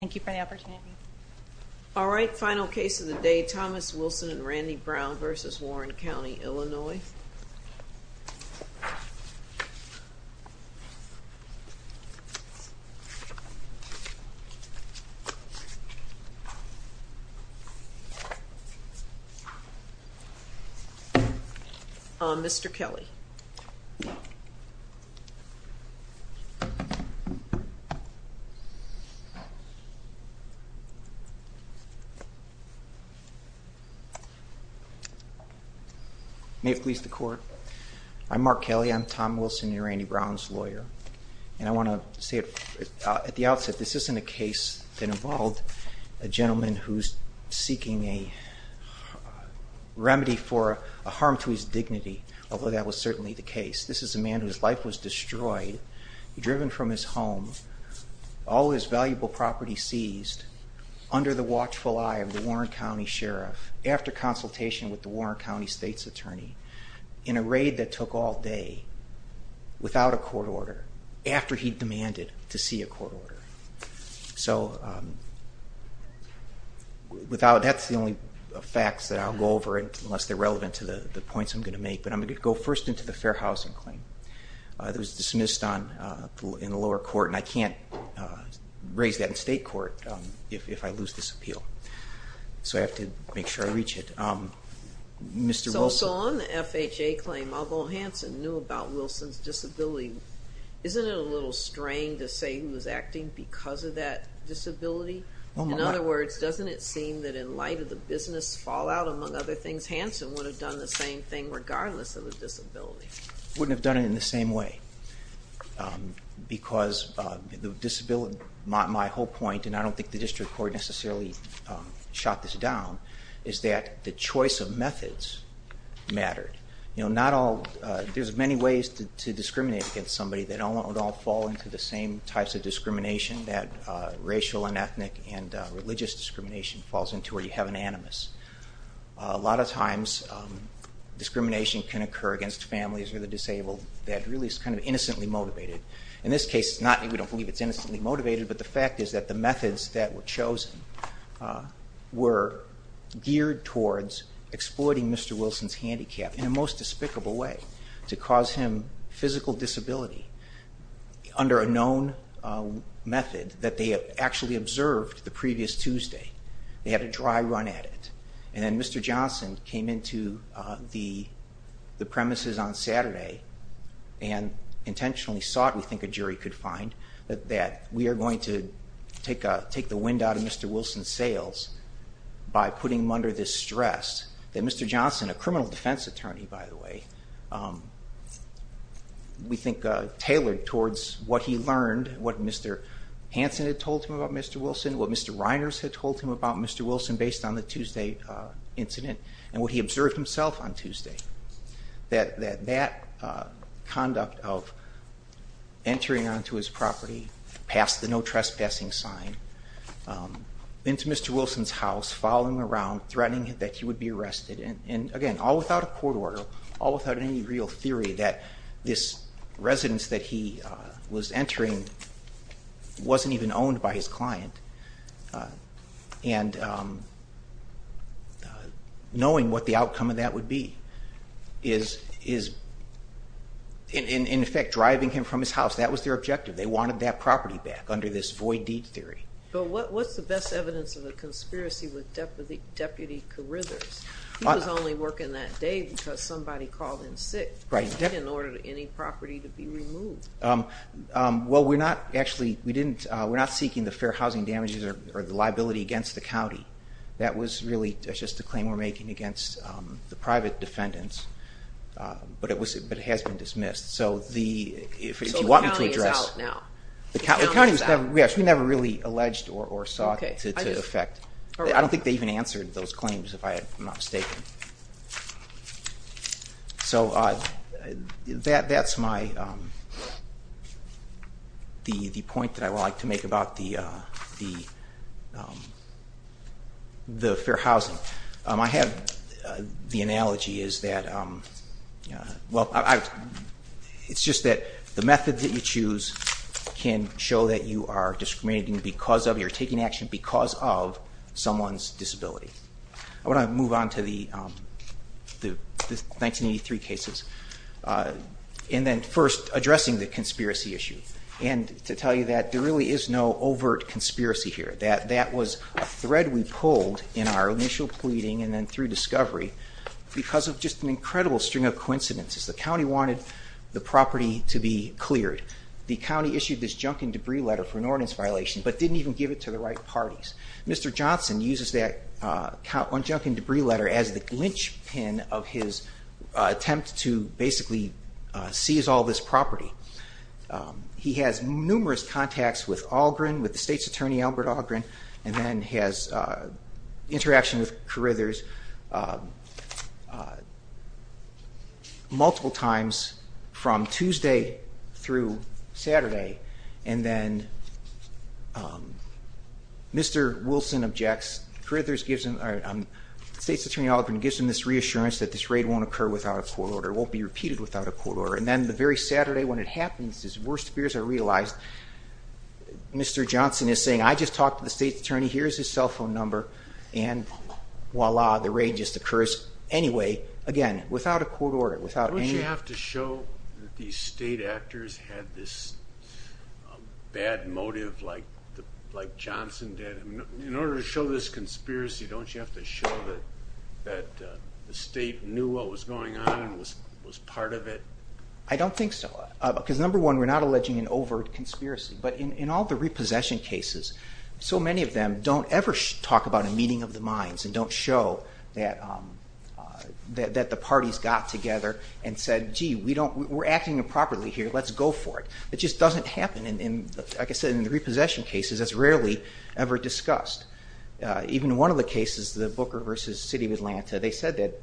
Thank you for the opportunity. All right, final case of the day, Thomas Wilson and Randy Brown v. Warren County, Illinois. Mr. Kelly. May it please the court. I'm Mark Kelly. I'm Tom Wilson, your Randy Brown's lawyer. And I want to say at the outset, this isn't a case that involved a gentleman who's seeking a remedy for a harm to his dignity, although that was certainly the case. This is a man whose life was destroyed, driven from his home, all his valuable property seized, under the watchful eye of the Warren County Sheriff, after consultation with the Warren County State's Attorney, in a raid that took all day, without a court order, after he demanded to see a court order. So that's the only facts that I'll go over, unless they're relevant to the points I'm going to make, but I'm going to go first into the Fair Housing claim. It was dismissed in the lower court, and I can't raise that in state court if I lose this appeal. So I have to make sure I reach it. So on the FHA claim, although Hanson knew about Wilson's disability, isn't it a little strange to say he was acting because of that disability? In other words, doesn't it seem that in light of the business fallout, among other things, Hanson would have done the same thing, regardless of his disability? He wouldn't have done it in the same way, because my whole point, and I don't think the district court necessarily shot this down, is that the choice of methods mattered. There's many ways to discriminate against somebody that would all fall into the same types of discrimination that racial and ethnic and religious discrimination falls into, where you have an animus. A lot of times discrimination can occur against families or the disabled that really is kind of innocently motivated. In this case, we don't believe it's innocently motivated, but the fact is that the methods that were chosen were geared towards exploiting Mr. Wilson's handicap in a most despicable way, to cause him physical disability under a known method that they had actually observed the previous Tuesday. They had a dry run at it, and then Mr. Johnson came into the premises on Saturday and intentionally sought, we think a jury could find, that we are going to take the wind out of Mr. Wilson's sails by putting him under this stress. That Mr. Johnson, a criminal defense attorney by the way, we think tailored towards what he learned, what Mr. Hanson had told him about Mr. Wilson, what Mr. Reiners had told him about Mr. Wilson based on the Tuesday incident, and what he observed himself on Tuesday. That that conduct of entering onto his property, past the no trespassing sign, into Mr. Wilson's house, following around, threatening that he would be arrested, and again, all without a court order, all without any real theory that this residence that he was entering wasn't even owned by his client, and knowing what the outcome of that would be is in effect driving him from his house. That was their objective. They wanted that property back under this void deed theory. But what's the best evidence of a conspiracy with Deputy Carithers? He was only working that day because somebody called in sick. Right. He didn't order any property to be removed. Well, we're not actually, we're not seeking the fair housing damages or the liability against the county. That was really just a claim we're making against the private defendants, but it has been dismissed. So the county is out now. Yes, we never really alleged or sought to affect. I don't think they even answered those claims, if I'm not mistaken. So that's my, the point that I would like to make about the fair housing. I have, the analogy is that, well, it's just that the method that you choose can show that you are discriminating because of, you're taking action because of someone's disability. I want to move on to the 1983 cases. And then first, addressing the conspiracy issue. And to tell you that there really is no overt conspiracy here. That that was a thread we pulled in our initial pleading and then through discovery because of just an incredible string of coincidences. The county wanted the property to be cleared. The county issued this junk and debris letter for an ordinance violation, but didn't even give it to the right parties. Mr. Johnson uses that junk and debris letter as the lynchpin of his attempt to basically seize all this property. He has numerous contacts with Algren, with the state's attorney, Albert Algren, and then has interaction with Carithers multiple times from Tuesday through Saturday. And then Mr. Wilson objects. Carithers gives him, or the state's attorney Algren gives him this reassurance that this raid won't occur without a court order, won't be repeated without a court order. And then the very Saturday when it happens, his worst fears are realized. Mr. Johnson is saying, I just talked to the state's attorney, here's his cell phone number, and voila, the raid just occurs anyway, again, without a court order, without any... Don't you have to show that these state actors had this bad motive like Johnson did? In order to show this conspiracy, don't you have to show that the state knew what was going on and was part of it? I don't think so, because number one, we're not alleging an overt conspiracy. But in all the repossession cases, so many of them don't ever talk about a meeting of the minds and don't show that the parties got together and said, gee, we're acting improperly here, let's go for it. It just doesn't happen. Like I said, in the repossession cases, that's rarely ever discussed. Even in one of the cases, the Booker v. City of Atlanta, they said that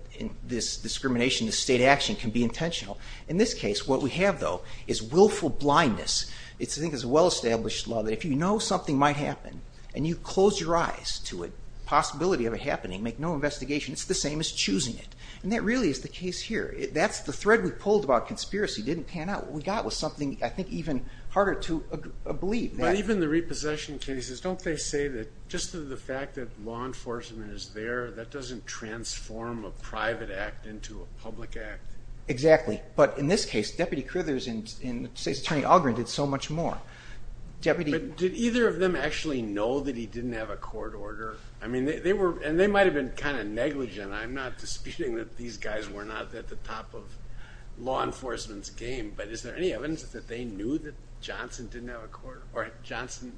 this discrimination, this state action can be intentional. In this case, what we have, though, is willful blindness. I think it's a well-established law that if you know something might happen, and you close your eyes to it, possibility of it happening, make no investigation, it's the same as choosing it. And that really is the case here. That's the thread we pulled about conspiracy. It didn't pan out. What we got was something, I think, even harder to believe. But even the repossession cases, don't they say that just the fact that law enforcement is there, that doesn't transform a private act into a public act? Exactly. But in this case, Deputy Crithers and Attorney Algren did so much more. But did either of them actually know that he didn't have a court order? And they might have been kind of negligent. I'm not disputing that these guys were not at the top of law enforcement's game, but is there any evidence that they knew that Johnson didn't have a court order? Or Johnson,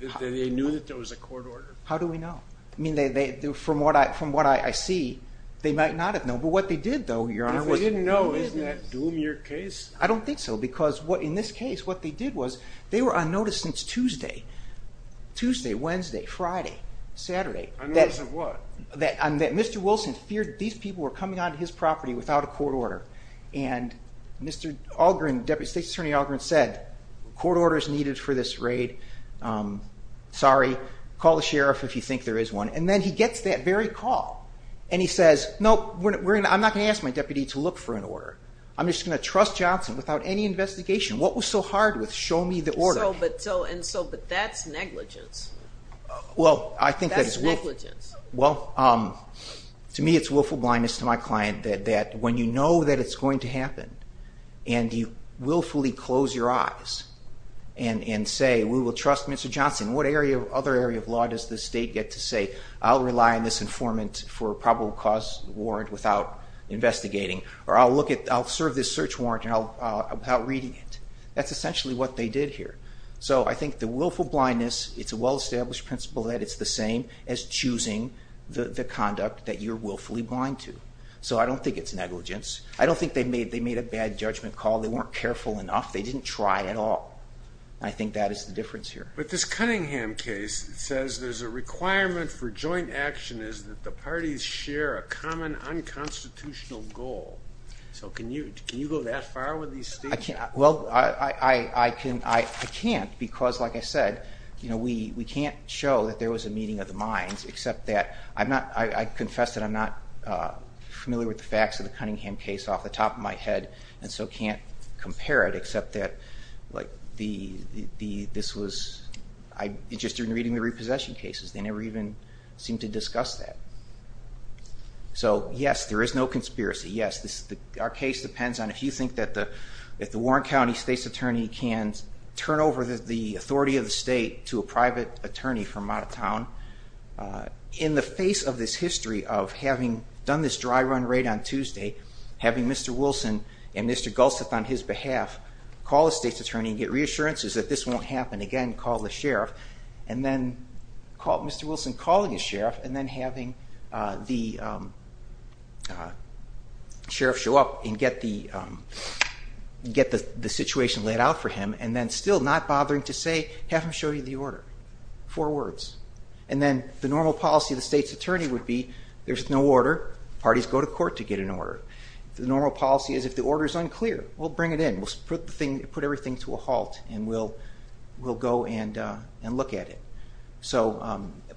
that they knew that there was a court order? How do we know? I mean, from what I see, they might not have known. But what they did, though, Your Honor, was— If they didn't know, isn't that doom your case? I don't think so. Because in this case, what they did was they were on notice since Tuesday. Tuesday, Wednesday, Friday, Saturday. On notice of what? That Mr. Wilson feared these people were coming onto his property without a court order. And Mr. Algren, Deputy State's Attorney Algren, said, Court order is needed for this raid. Sorry. Call the sheriff if you think there is one. And then he gets that very call, and he says, No, I'm not going to ask my deputy to look for an order. I'm just going to trust Johnson without any investigation. What was so hard with show me the order? So, but that's negligence. Well, I think that is— That's negligence. Well, to me, it's willful blindness to my client that when you know that it's going to happen, and you willfully close your eyes and say, We will trust Mr. Johnson. What other area of law does the state get to say, I'll rely on this informant for probable cause warrant without investigating, or I'll look at—I'll serve this search warrant without reading it. That's essentially what they did here. So I think the willful blindness, it's a well-established principle that it's the same as choosing the conduct that you're willfully blind to. So I don't think it's negligence. I don't think they made a bad judgment call. They weren't careful enough. They didn't try at all. I think that is the difference here. But this Cunningham case says there's a requirement for joint action is that the parties share a common unconstitutional goal. So can you go that far with these statements? Well, I can't because, like I said, we can't show that there was a meeting of the minds, except that I confess that I'm not familiar with the facts of the Cunningham case off the top of my head, and so can't compare it, except that this was just in reading the repossession cases. They never even seemed to discuss that. So, yes, there is no conspiracy, yes. Our case depends on if you think that the Warren County state's attorney can turn over the authority of the state to a private attorney from out of town. In the face of this history of having done this dry run raid on Tuesday, having Mr. Wilson and Mr. Gulseth on his behalf call the state's attorney and get reassurances that this won't happen again, call the sheriff, and then Mr. Wilson calling the sheriff and then having the sheriff show up and get the situation laid out for him and then still not bothering to say, have him show you the order. Four words. And then the normal policy of the state's attorney would be, there's no order, parties go to court to get an order. The normal policy is if the order is unclear, we'll bring it in, we'll put everything to a halt, and we'll go and look at it.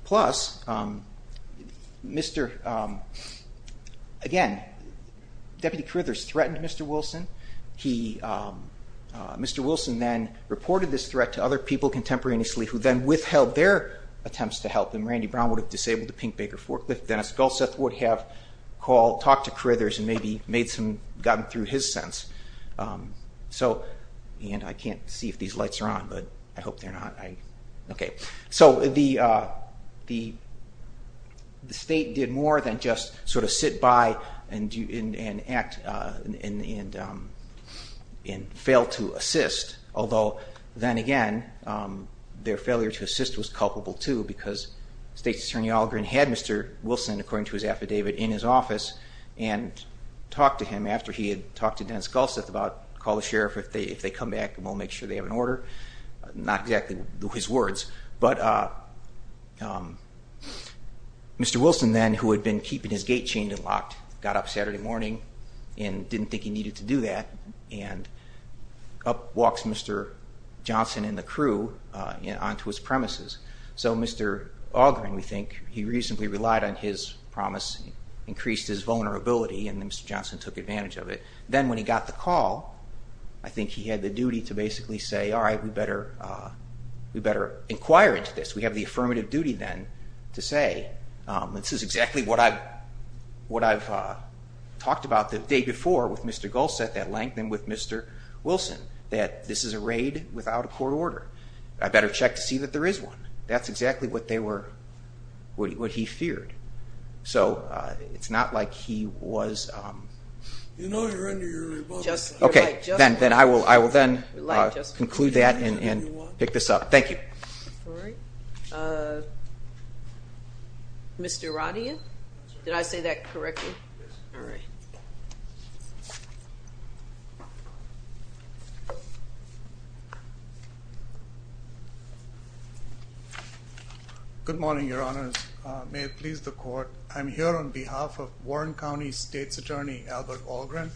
Plus, again, Deputy Carithers threatened Mr. Wilson. Mr. Wilson then reported this threat to other people contemporaneously who then withheld their attempts to help him. Randy Brown would have disabled the Pink Baker forklift. Dennis Gulseth would have talked to Carithers and maybe gotten through his sense. And I can't see if these lights are on, but I hope they're not. So the state did more than just sort of sit by and fail to assist, although then again their failure to assist was culpable too because the state's attorney had Mr. Wilson, according to his affidavit, in his office and talked to him after he had talked to Dennis Gulseth about call the sheriff if they come back and we'll make sure they have an order. Not exactly his words, but Mr. Wilson then, who had been keeping his gate chained and locked, got up Saturday morning and didn't think he needed to do that and up walks Mr. Johnson and the crew onto his premises. So Mr. Augering, we think, he reasonably relied on his promise, increased his vulnerability, and Mr. Johnson took advantage of it. Then when he got the call, I think he had the duty to basically say, all right, we better inquire into this. We have the affirmative duty then to say, this is exactly what I've talked about the day before with Mr. Gulseth at length and with Mr. Wilson, that this is a raid without a court order. I better check to see that there is one. That's exactly what they were, what he feared. So it's not like he was. You know you're under your rebuttal. Okay. Then I will then conclude that and pick this up. Thank you. All right. Mr. Radian? Did I say that correctly? Yes. All right. Good morning, Your Honors. May it please the Court, I'm here on behalf of Warren County State's Attorney Albert Augerin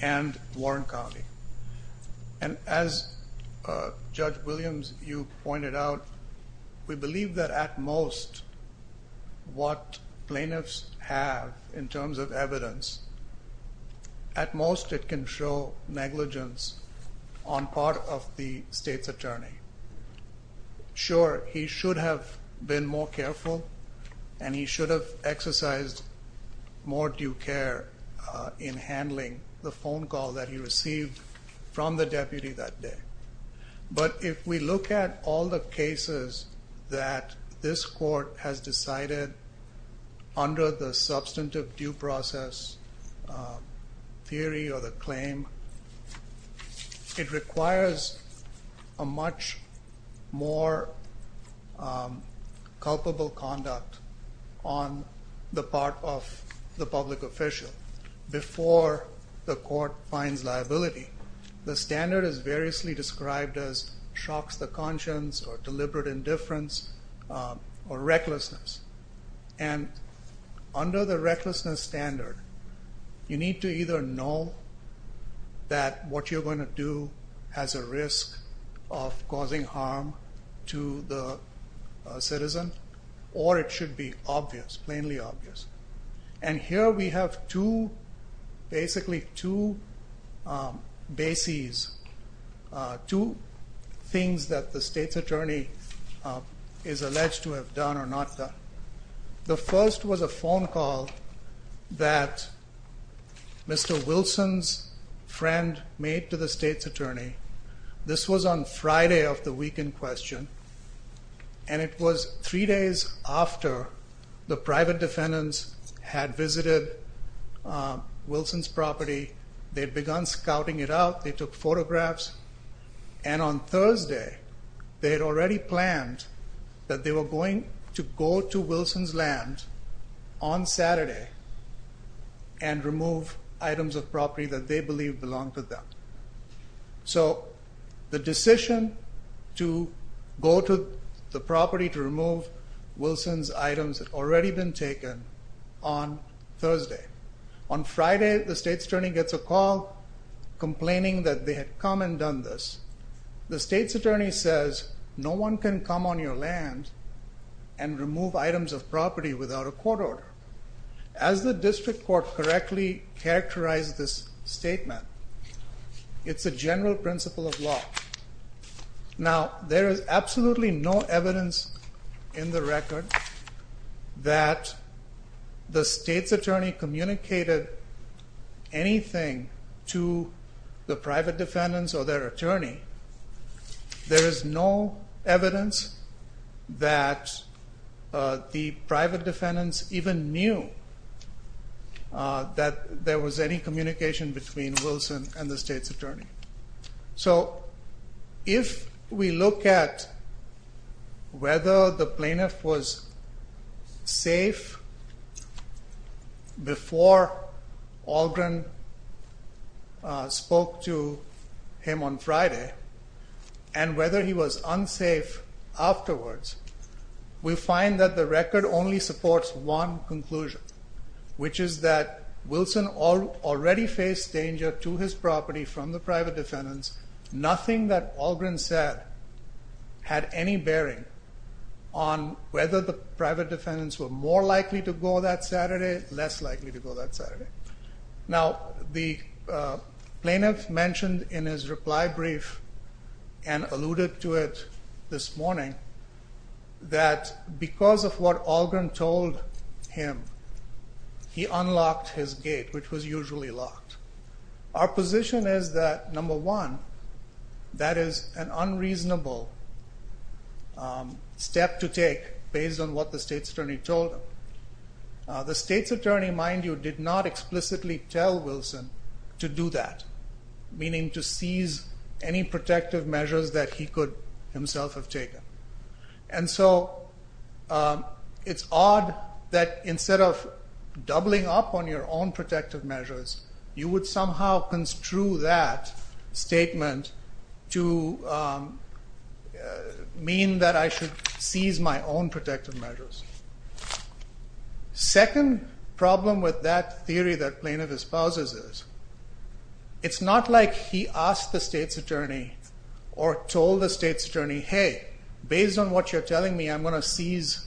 and Warren County. As Judge Williams, you pointed out, we believe that at most what plaintiffs have in terms of evidence, at most it can show negligence on part of the State's Attorney. Sure, he should have been more careful and he should have exercised more due care in handling the phone call that he received from the deputy that day. But if we look at all the cases that this court has decided under the substantive due process theory or the claim, it requires a much more culpable conduct on the part of the public official before the court finds liability. The standard is variously described as shocks the conscience or deliberate indifference or recklessness. And under the recklessness standard, you need to either know that what you're going to do has a risk of causing harm to the citizen or it should be obvious, plainly obvious. And here we have basically two bases, two things that the State's Attorney is alleged to have done or not done. The first was a phone call that Mr. Wilson's friend made to the State's Attorney. This was on Friday of the week in question and it was three days after the private defendants had visited Wilson's property. They'd begun scouting it out. They took photographs and on Thursday they had already planned that they were going to go to Wilson's land on Saturday and remove items of property that they believed belonged to them. So the decision to go to the property to remove Wilson's items had already been taken on Thursday. On Friday, the State's Attorney gets a call complaining that they had come and done this. The State's Attorney says, no one can come on your land and remove items of property without a court order. As the District Court correctly characterized this statement, it's a general principle of law. Now, there is absolutely no evidence in the record that the State's Attorney communicated anything to the private defendants or their attorney. There is no evidence that the private defendants even knew that there was any communication between Wilson and the State's Attorney. So if we look at whether the plaintiff was safe before Algren spoke to him on Friday and whether he was unsafe afterwards, we find that the record only supports one conclusion, which is that Wilson already faced danger to his property from the private defendants. Nothing that Algren said had any bearing on whether the private defendants were more likely to go that Saturday, less likely to go that Saturday. Now, the plaintiff mentioned in his reply brief and alluded to it this morning that because of what Algren told him, he unlocked his gate, which was usually locked. Our position is that, number one, that is an unreasonable step to take based on what the State's Attorney told him. The State's Attorney, mind you, did not explicitly tell Wilson to do that, meaning to seize any protective measures that he could himself have taken. And so it's odd that instead of doubling up on your own protective measures, you would somehow construe that statement to mean that I should seize my own protective measures. Second problem with that theory that plaintiff espouses is it's not like he asked the State's Attorney or told the State's Attorney, hey, based on what you're telling me, I'm going to seize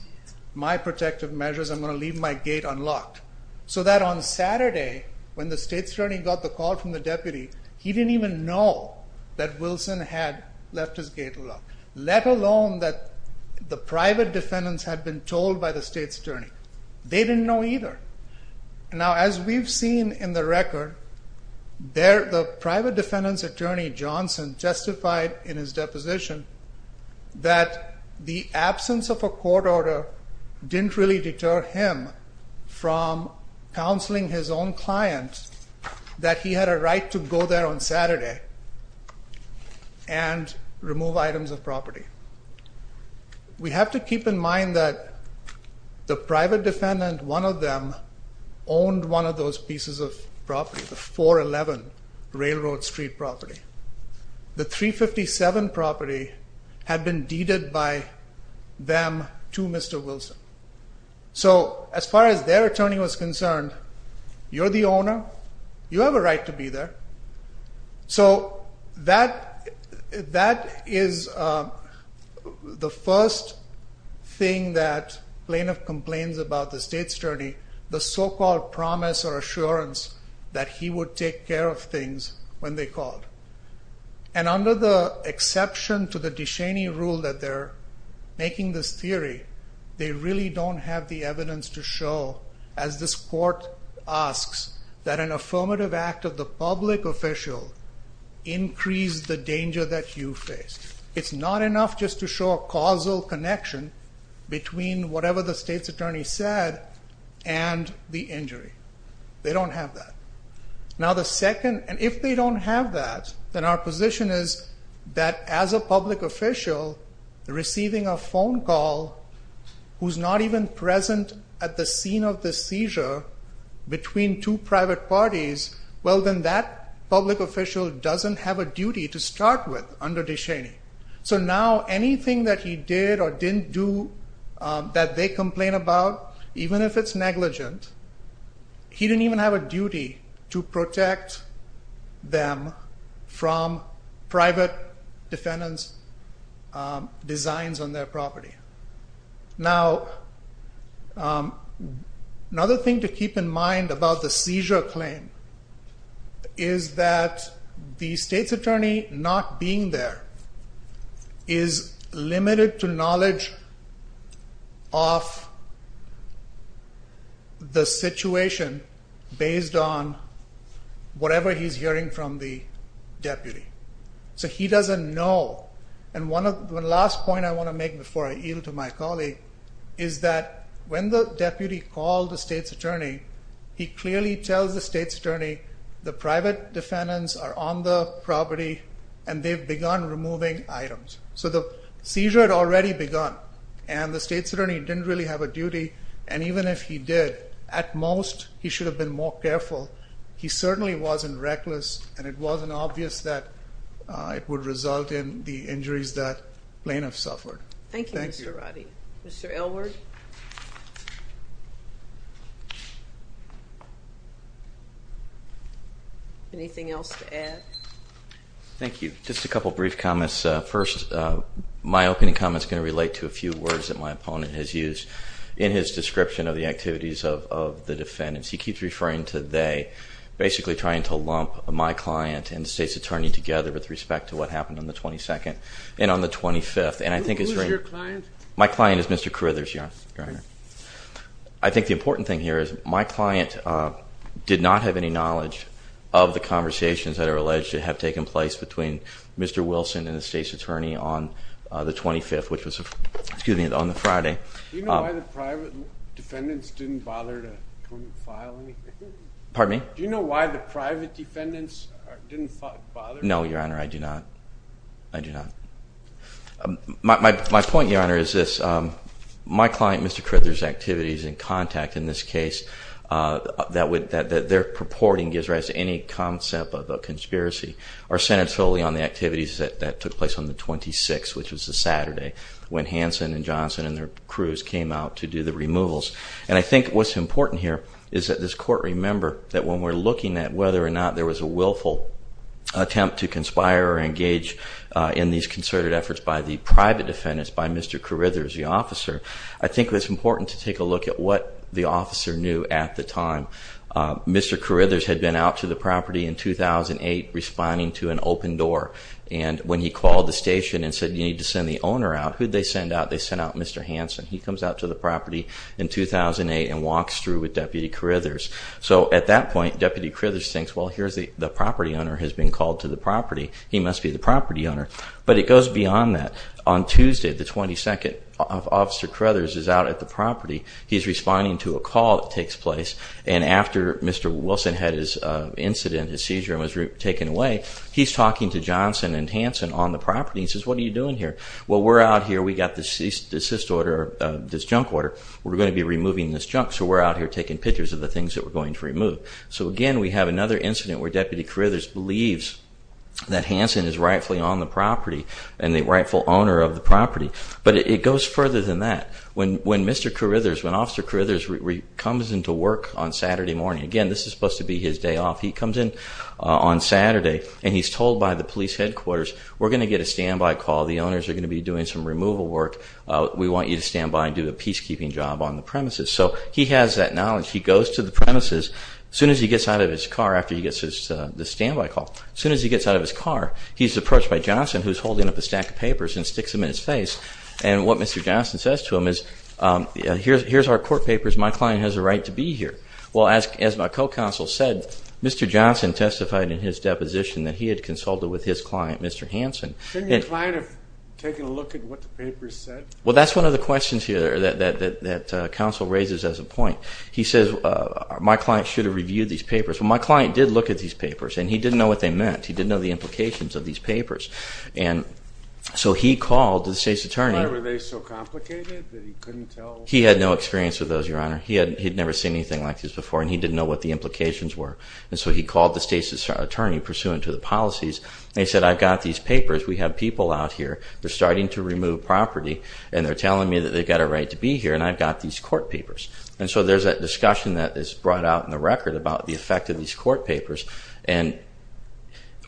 my protective measures, I'm going to leave my gate unlocked. So that on Saturday, when the State's Attorney got the call from the deputy, he didn't even know that Wilson had left his gate unlocked, let alone that the private defendants had been told by the State's Attorney. They didn't know either. Now, as we've seen in the record, the private defendant's attorney, Johnson, testified in his deposition that the absence of a court order didn't really deter him from counseling his own client that he had a right to go there on Saturday and remove items of property. We have to keep in mind that the private defendant, one of them, owned one of those pieces of property, the 411 Railroad Street property. The 357 property had been deeded by them to Mr. Wilson. So as far as their attorney was concerned, you're the owner, you have a right to be there. So that is the first thing that plaintiff complains about the State's Attorney, the so-called promise or assurance that he would take care of things when they called. And under the exception to the DeShaney rule that they're making this theory, they really don't have the evidence to show, as this court asks, that an affirmative act of the public official increased the danger that you faced. It's not enough just to show a causal connection between whatever the State's Attorney said and the injury. They don't have that. Now the second, and if they don't have that, then our position is that as a public official, receiving a phone call who's not even present at the scene of the seizure between two private parties, well then that public official doesn't have a duty to start with under DeShaney. So now anything that he did or didn't do that they complain about, even if it's negligent, he didn't even have a duty to protect them from private defendants' designs on their property. Now another thing to keep in mind about the seizure claim is that the State's Attorney not being there is limited to knowledge of the situation based on whatever he's hearing from the deputy. So he doesn't know. And one last point I want to make before I yield to my colleague is that when the deputy called the State's Attorney, he clearly tells the State's Attorney, the private defendants are on the property and they've begun removing items. So the seizure had already begun and the State's Attorney didn't really have a duty, and even if he did, at most he should have been more careful. He certainly wasn't reckless and it wasn't obvious that it would result in the injuries that plaintiffs suffered. Thank you, Mr. Ratti. Thank you. Mr. Elward? Anything else to add? Thank you. Just a couple of brief comments. First, my opening comment is going to relate to a few words that my opponent has used in his description of the activities of the defendants. He keeps referring to they, basically trying to lump my client and the State's Attorney together with respect to what happened on the 22nd and on the 25th. Who is your client? My client is Mr. Carithers, Your Honor. I think the important thing here is my client did not have any knowledge of the conversations that are alleged to have taken place between Mr. Wilson and the State's Attorney on the 25th, which was on the Friday. Do you know why the private defendants didn't bother to file anything? Pardon me? Do you know why the private defendants didn't bother to file anything? No, Your Honor, I do not. I do not. My point, Your Honor, is this. My client, Mr. Carithers' activities and contact in this case, that their purporting gives rise to any concept of a conspiracy are centered solely on the activities that took place on the 26th, which was the Saturday when Hanson and Johnson and their crews came out to do the removals. I think what's important here is that this Court remember that when we're looking at whether or not there was a willful attempt to conspire or engage in these concerted efforts by the private defendants, by Mr. Carithers, the officer, I think it's important to take a look at what the officer knew at the time. Mr. Carithers had been out to the property in 2008 responding to an open door. And when he called the station and said, you need to send the owner out, who'd they send out? They sent out Mr. Hanson. He comes out to the property in 2008 and walks through with Deputy Carithers. So at that point, Deputy Carithers thinks, well, here's the property owner has been called to the property. He must be the property owner. But it goes beyond that. On Tuesday, the 22nd, Officer Carithers is out at the property. He's responding to a call that takes place. And after Mr. Wilson had his incident, his seizure, and was taken away, he's talking to Johnson and Hanson on the property. He says, what are you doing here? Well, we're out here. We got this cyst order, this junk order. We're going to be removing this junk, so we're out here taking pictures of the things that we're going to remove. So again, we have another incident where Deputy Carithers believes that Hanson is rightfully on the property and the rightful owner of the property. But it goes further than that. When Mr. Carithers, when Officer Carithers comes into work on Saturday morning, again, this is supposed to be his day off, he comes in on Saturday and he's told by the police headquarters, we're going to get a standby call. The owners are going to be doing some removal work. We want you to stand by and do a peacekeeping job on the premises. So he has that knowledge. He goes to the premises. As soon as he gets out of his car, after he gets the standby call, as soon as he gets out of his car, he's approached by Johnson, who's holding up a stack of papers and sticks them in his face. And what Mr. Johnson says to him is, here's our court papers, my client has a right to be here. Well, as my co-counsel said, Mr. Johnson testified in his deposition that he had consulted with his client, Mr. Hanson. Couldn't your client have taken a look at what the papers said? Well, that's one of the questions here that counsel raises as a point. He says, my client should have reviewed these papers. Well, my client did look at these papers, and he didn't know what they meant. He didn't know the implications of these papers. And so he called the state's attorney. Why were they so complicated that he couldn't tell? He had no experience with those, Your Honor. He had never seen anything like this before, and he didn't know what the implications were. And so he called the state's attorney pursuant to the policies, and he said, I've got these papers, we have people out here, they're starting to remove property, and they're telling me that they've got a right to be here, and I've got these court papers. And so there's that discussion that is brought out in the record about the effect of these court papers. And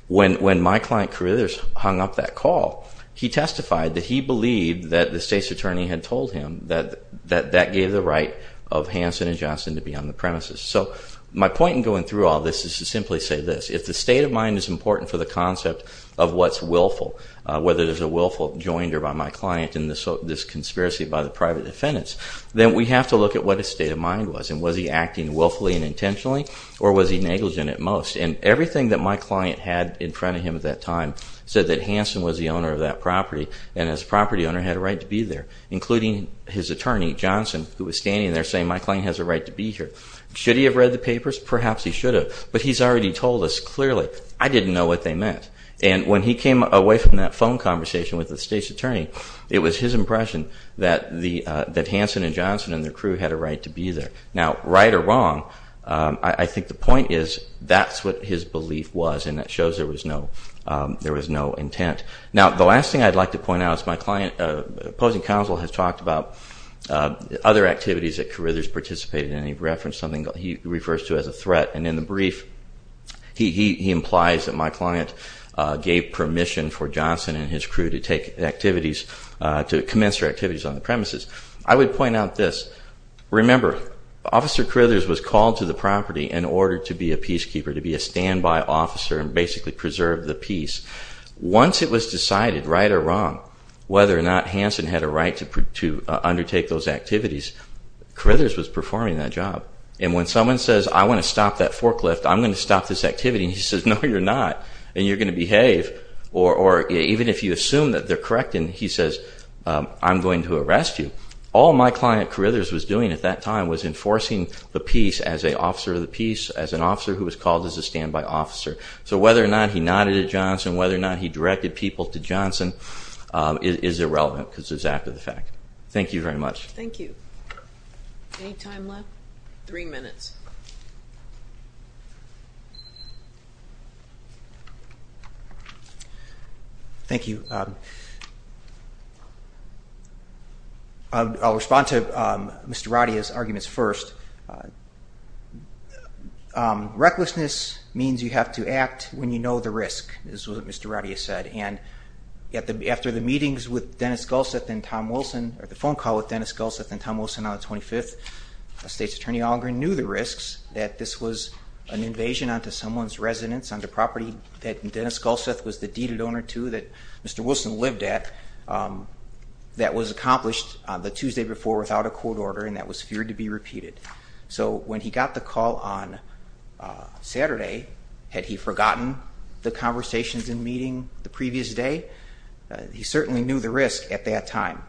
when my client Carrillo hung up that call, he testified that he believed that the state's attorney had told him that that gave the right of Hanson & Johnson to be on the premises. So my point in going through all this is to simply say this. If the state of mind is important for the concept of what's willful, whether there's a willful joinder by my client in this conspiracy by the private defendants, then we have to look at what his state of mind was, and was he acting willfully and intentionally, or was he negligent at most? And everything that my client had in front of him at that time said that Hanson was the owner of that property and as a property owner had a right to be there, including his attorney, Johnson, who was standing there saying, my client has a right to be here. Should he have read the papers? Perhaps he should have. But he's already told us clearly, I didn't know what they meant. And when he came away from that phone conversation with the state's attorney, it was his impression that Hanson & Johnson and their crew had a right to be there. Now, right or wrong, I think the point is that's what his belief was and that shows there was no intent. Now, the last thing I'd like to point out is my client, the opposing counsel has talked about other activities that Carithers participated in. He referenced something he refers to as a threat, and in the brief he implies that my client gave permission for Johnson and his crew to take activities, to commence their activities on the premises. I would point out this. Remember, Officer Carithers was called to the property in order to be a peacekeeper, to be a standby officer and basically preserve the peace. Once it was decided, right or wrong, whether or not Hanson had a right to undertake those activities, Carithers was performing that job. And when someone says, I want to stop that forklift, I'm going to stop this activity, and he says, no, you're not, and you're going to behave, or even if you assume that they're correct and he says, I'm going to arrest you, all my client Carithers was doing at that time was enforcing the peace as an officer of the peace, as an officer who was called as a standby officer. So whether or not he nodded at Johnson, whether or not he directed people to Johnson is irrelevant because it's after the fact. Thank you very much. Thank you. Any time left? Three minutes. Thank you. I'll respond to Mr. Radia's arguments first. Recklessness means you have to act when you know the risk, is what Mr. Radia said. And after the meetings with Dennis Gulseth and Tom Wilson, or the phone call with Dennis Gulseth and Tom Wilson on the 25th, a state's attorney knew the risks, that this was an invasion onto someone's residence, onto property that Dennis Gulseth was the deeded owner to, that Mr. Wilson lived at, that was accomplished the Tuesday before without a court order and that was feared to be repeated. So when he got the call on Saturday, had he forgotten the conversations and meeting the previous day? He certainly knew the risk at that time.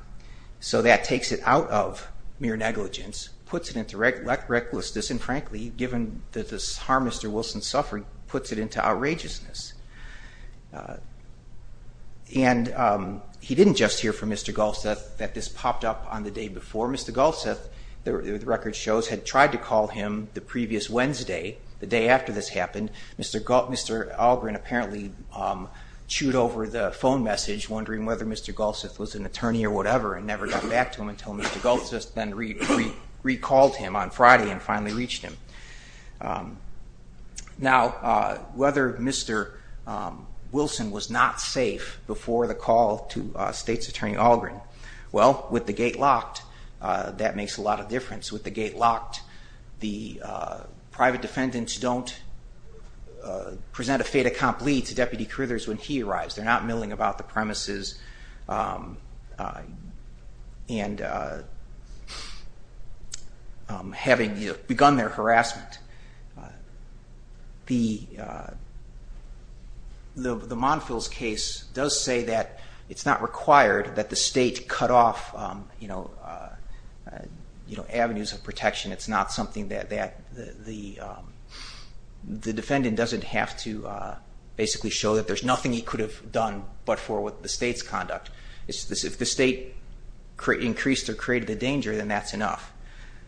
So that takes it out of mere negligence, puts it into recklessness, and frankly, given the harm Mr. Wilson suffered, puts it into outrageousness. And he didn't just hear from Mr. Gulseth that this popped up on the day before. Mr. Gulseth, the record shows, had tried to call him the previous Wednesday, the day after this happened. Mr. Algren apparently chewed over the phone message, wondering whether Mr. Gulseth was an attorney or whatever, and never got back to him until Mr. Gulseth then recalled him on Friday and finally reached him. Now, whether Mr. Wilson was not safe before the call to state's attorney Algren? Well, with the gate locked, that makes a lot of difference. With the gate locked, the private defendants don't present a fait accompli to Deputy Carithers when he arrives. They're not milling about the premises and having begun their harassment. The Monfils case does say that it's not required that the state cut off avenues of protection. It's not something that the defendant doesn't have to basically show that there's nothing he could have done but for the state's conduct. If the state increased or created a danger, then that's enough.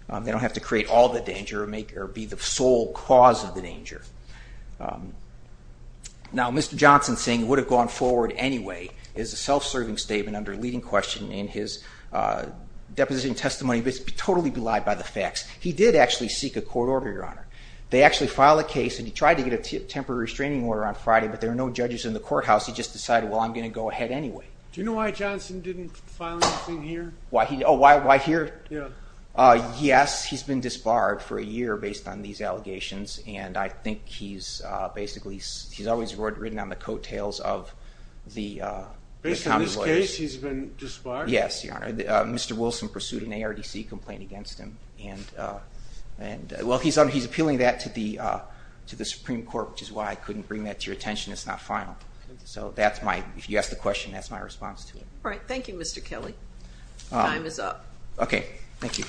They don't have to create all the danger or be the sole cause of the danger. Now, Mr. Johnson saying he would have gone forward anyway is a self-serving statement under leading question in his deposition testimony, but it's totally belied by the facts. He did actually seek a court order, Your Honor. They actually filed a case, and he tried to get a temporary restraining order on Friday, but there were no judges in the courthouse. He just decided, well, I'm going to go ahead anyway. Do you know why Johnson didn't file anything here? Oh, why here? Yes, he's been disbarred for a year based on these allegations, and I think he's always ridden on the coattails of the convoy. Based on this case, he's been disbarred? Yes, Your Honor. Mr. Wilson pursued an ARDC complaint against him. Well, he's appealing that to the Supreme Court, which is why I couldn't bring that to your attention. It's not final. So if you ask the question, that's my response to it. All right. Thank you, Mr. Kelly. Time is up. Okay. Thank you.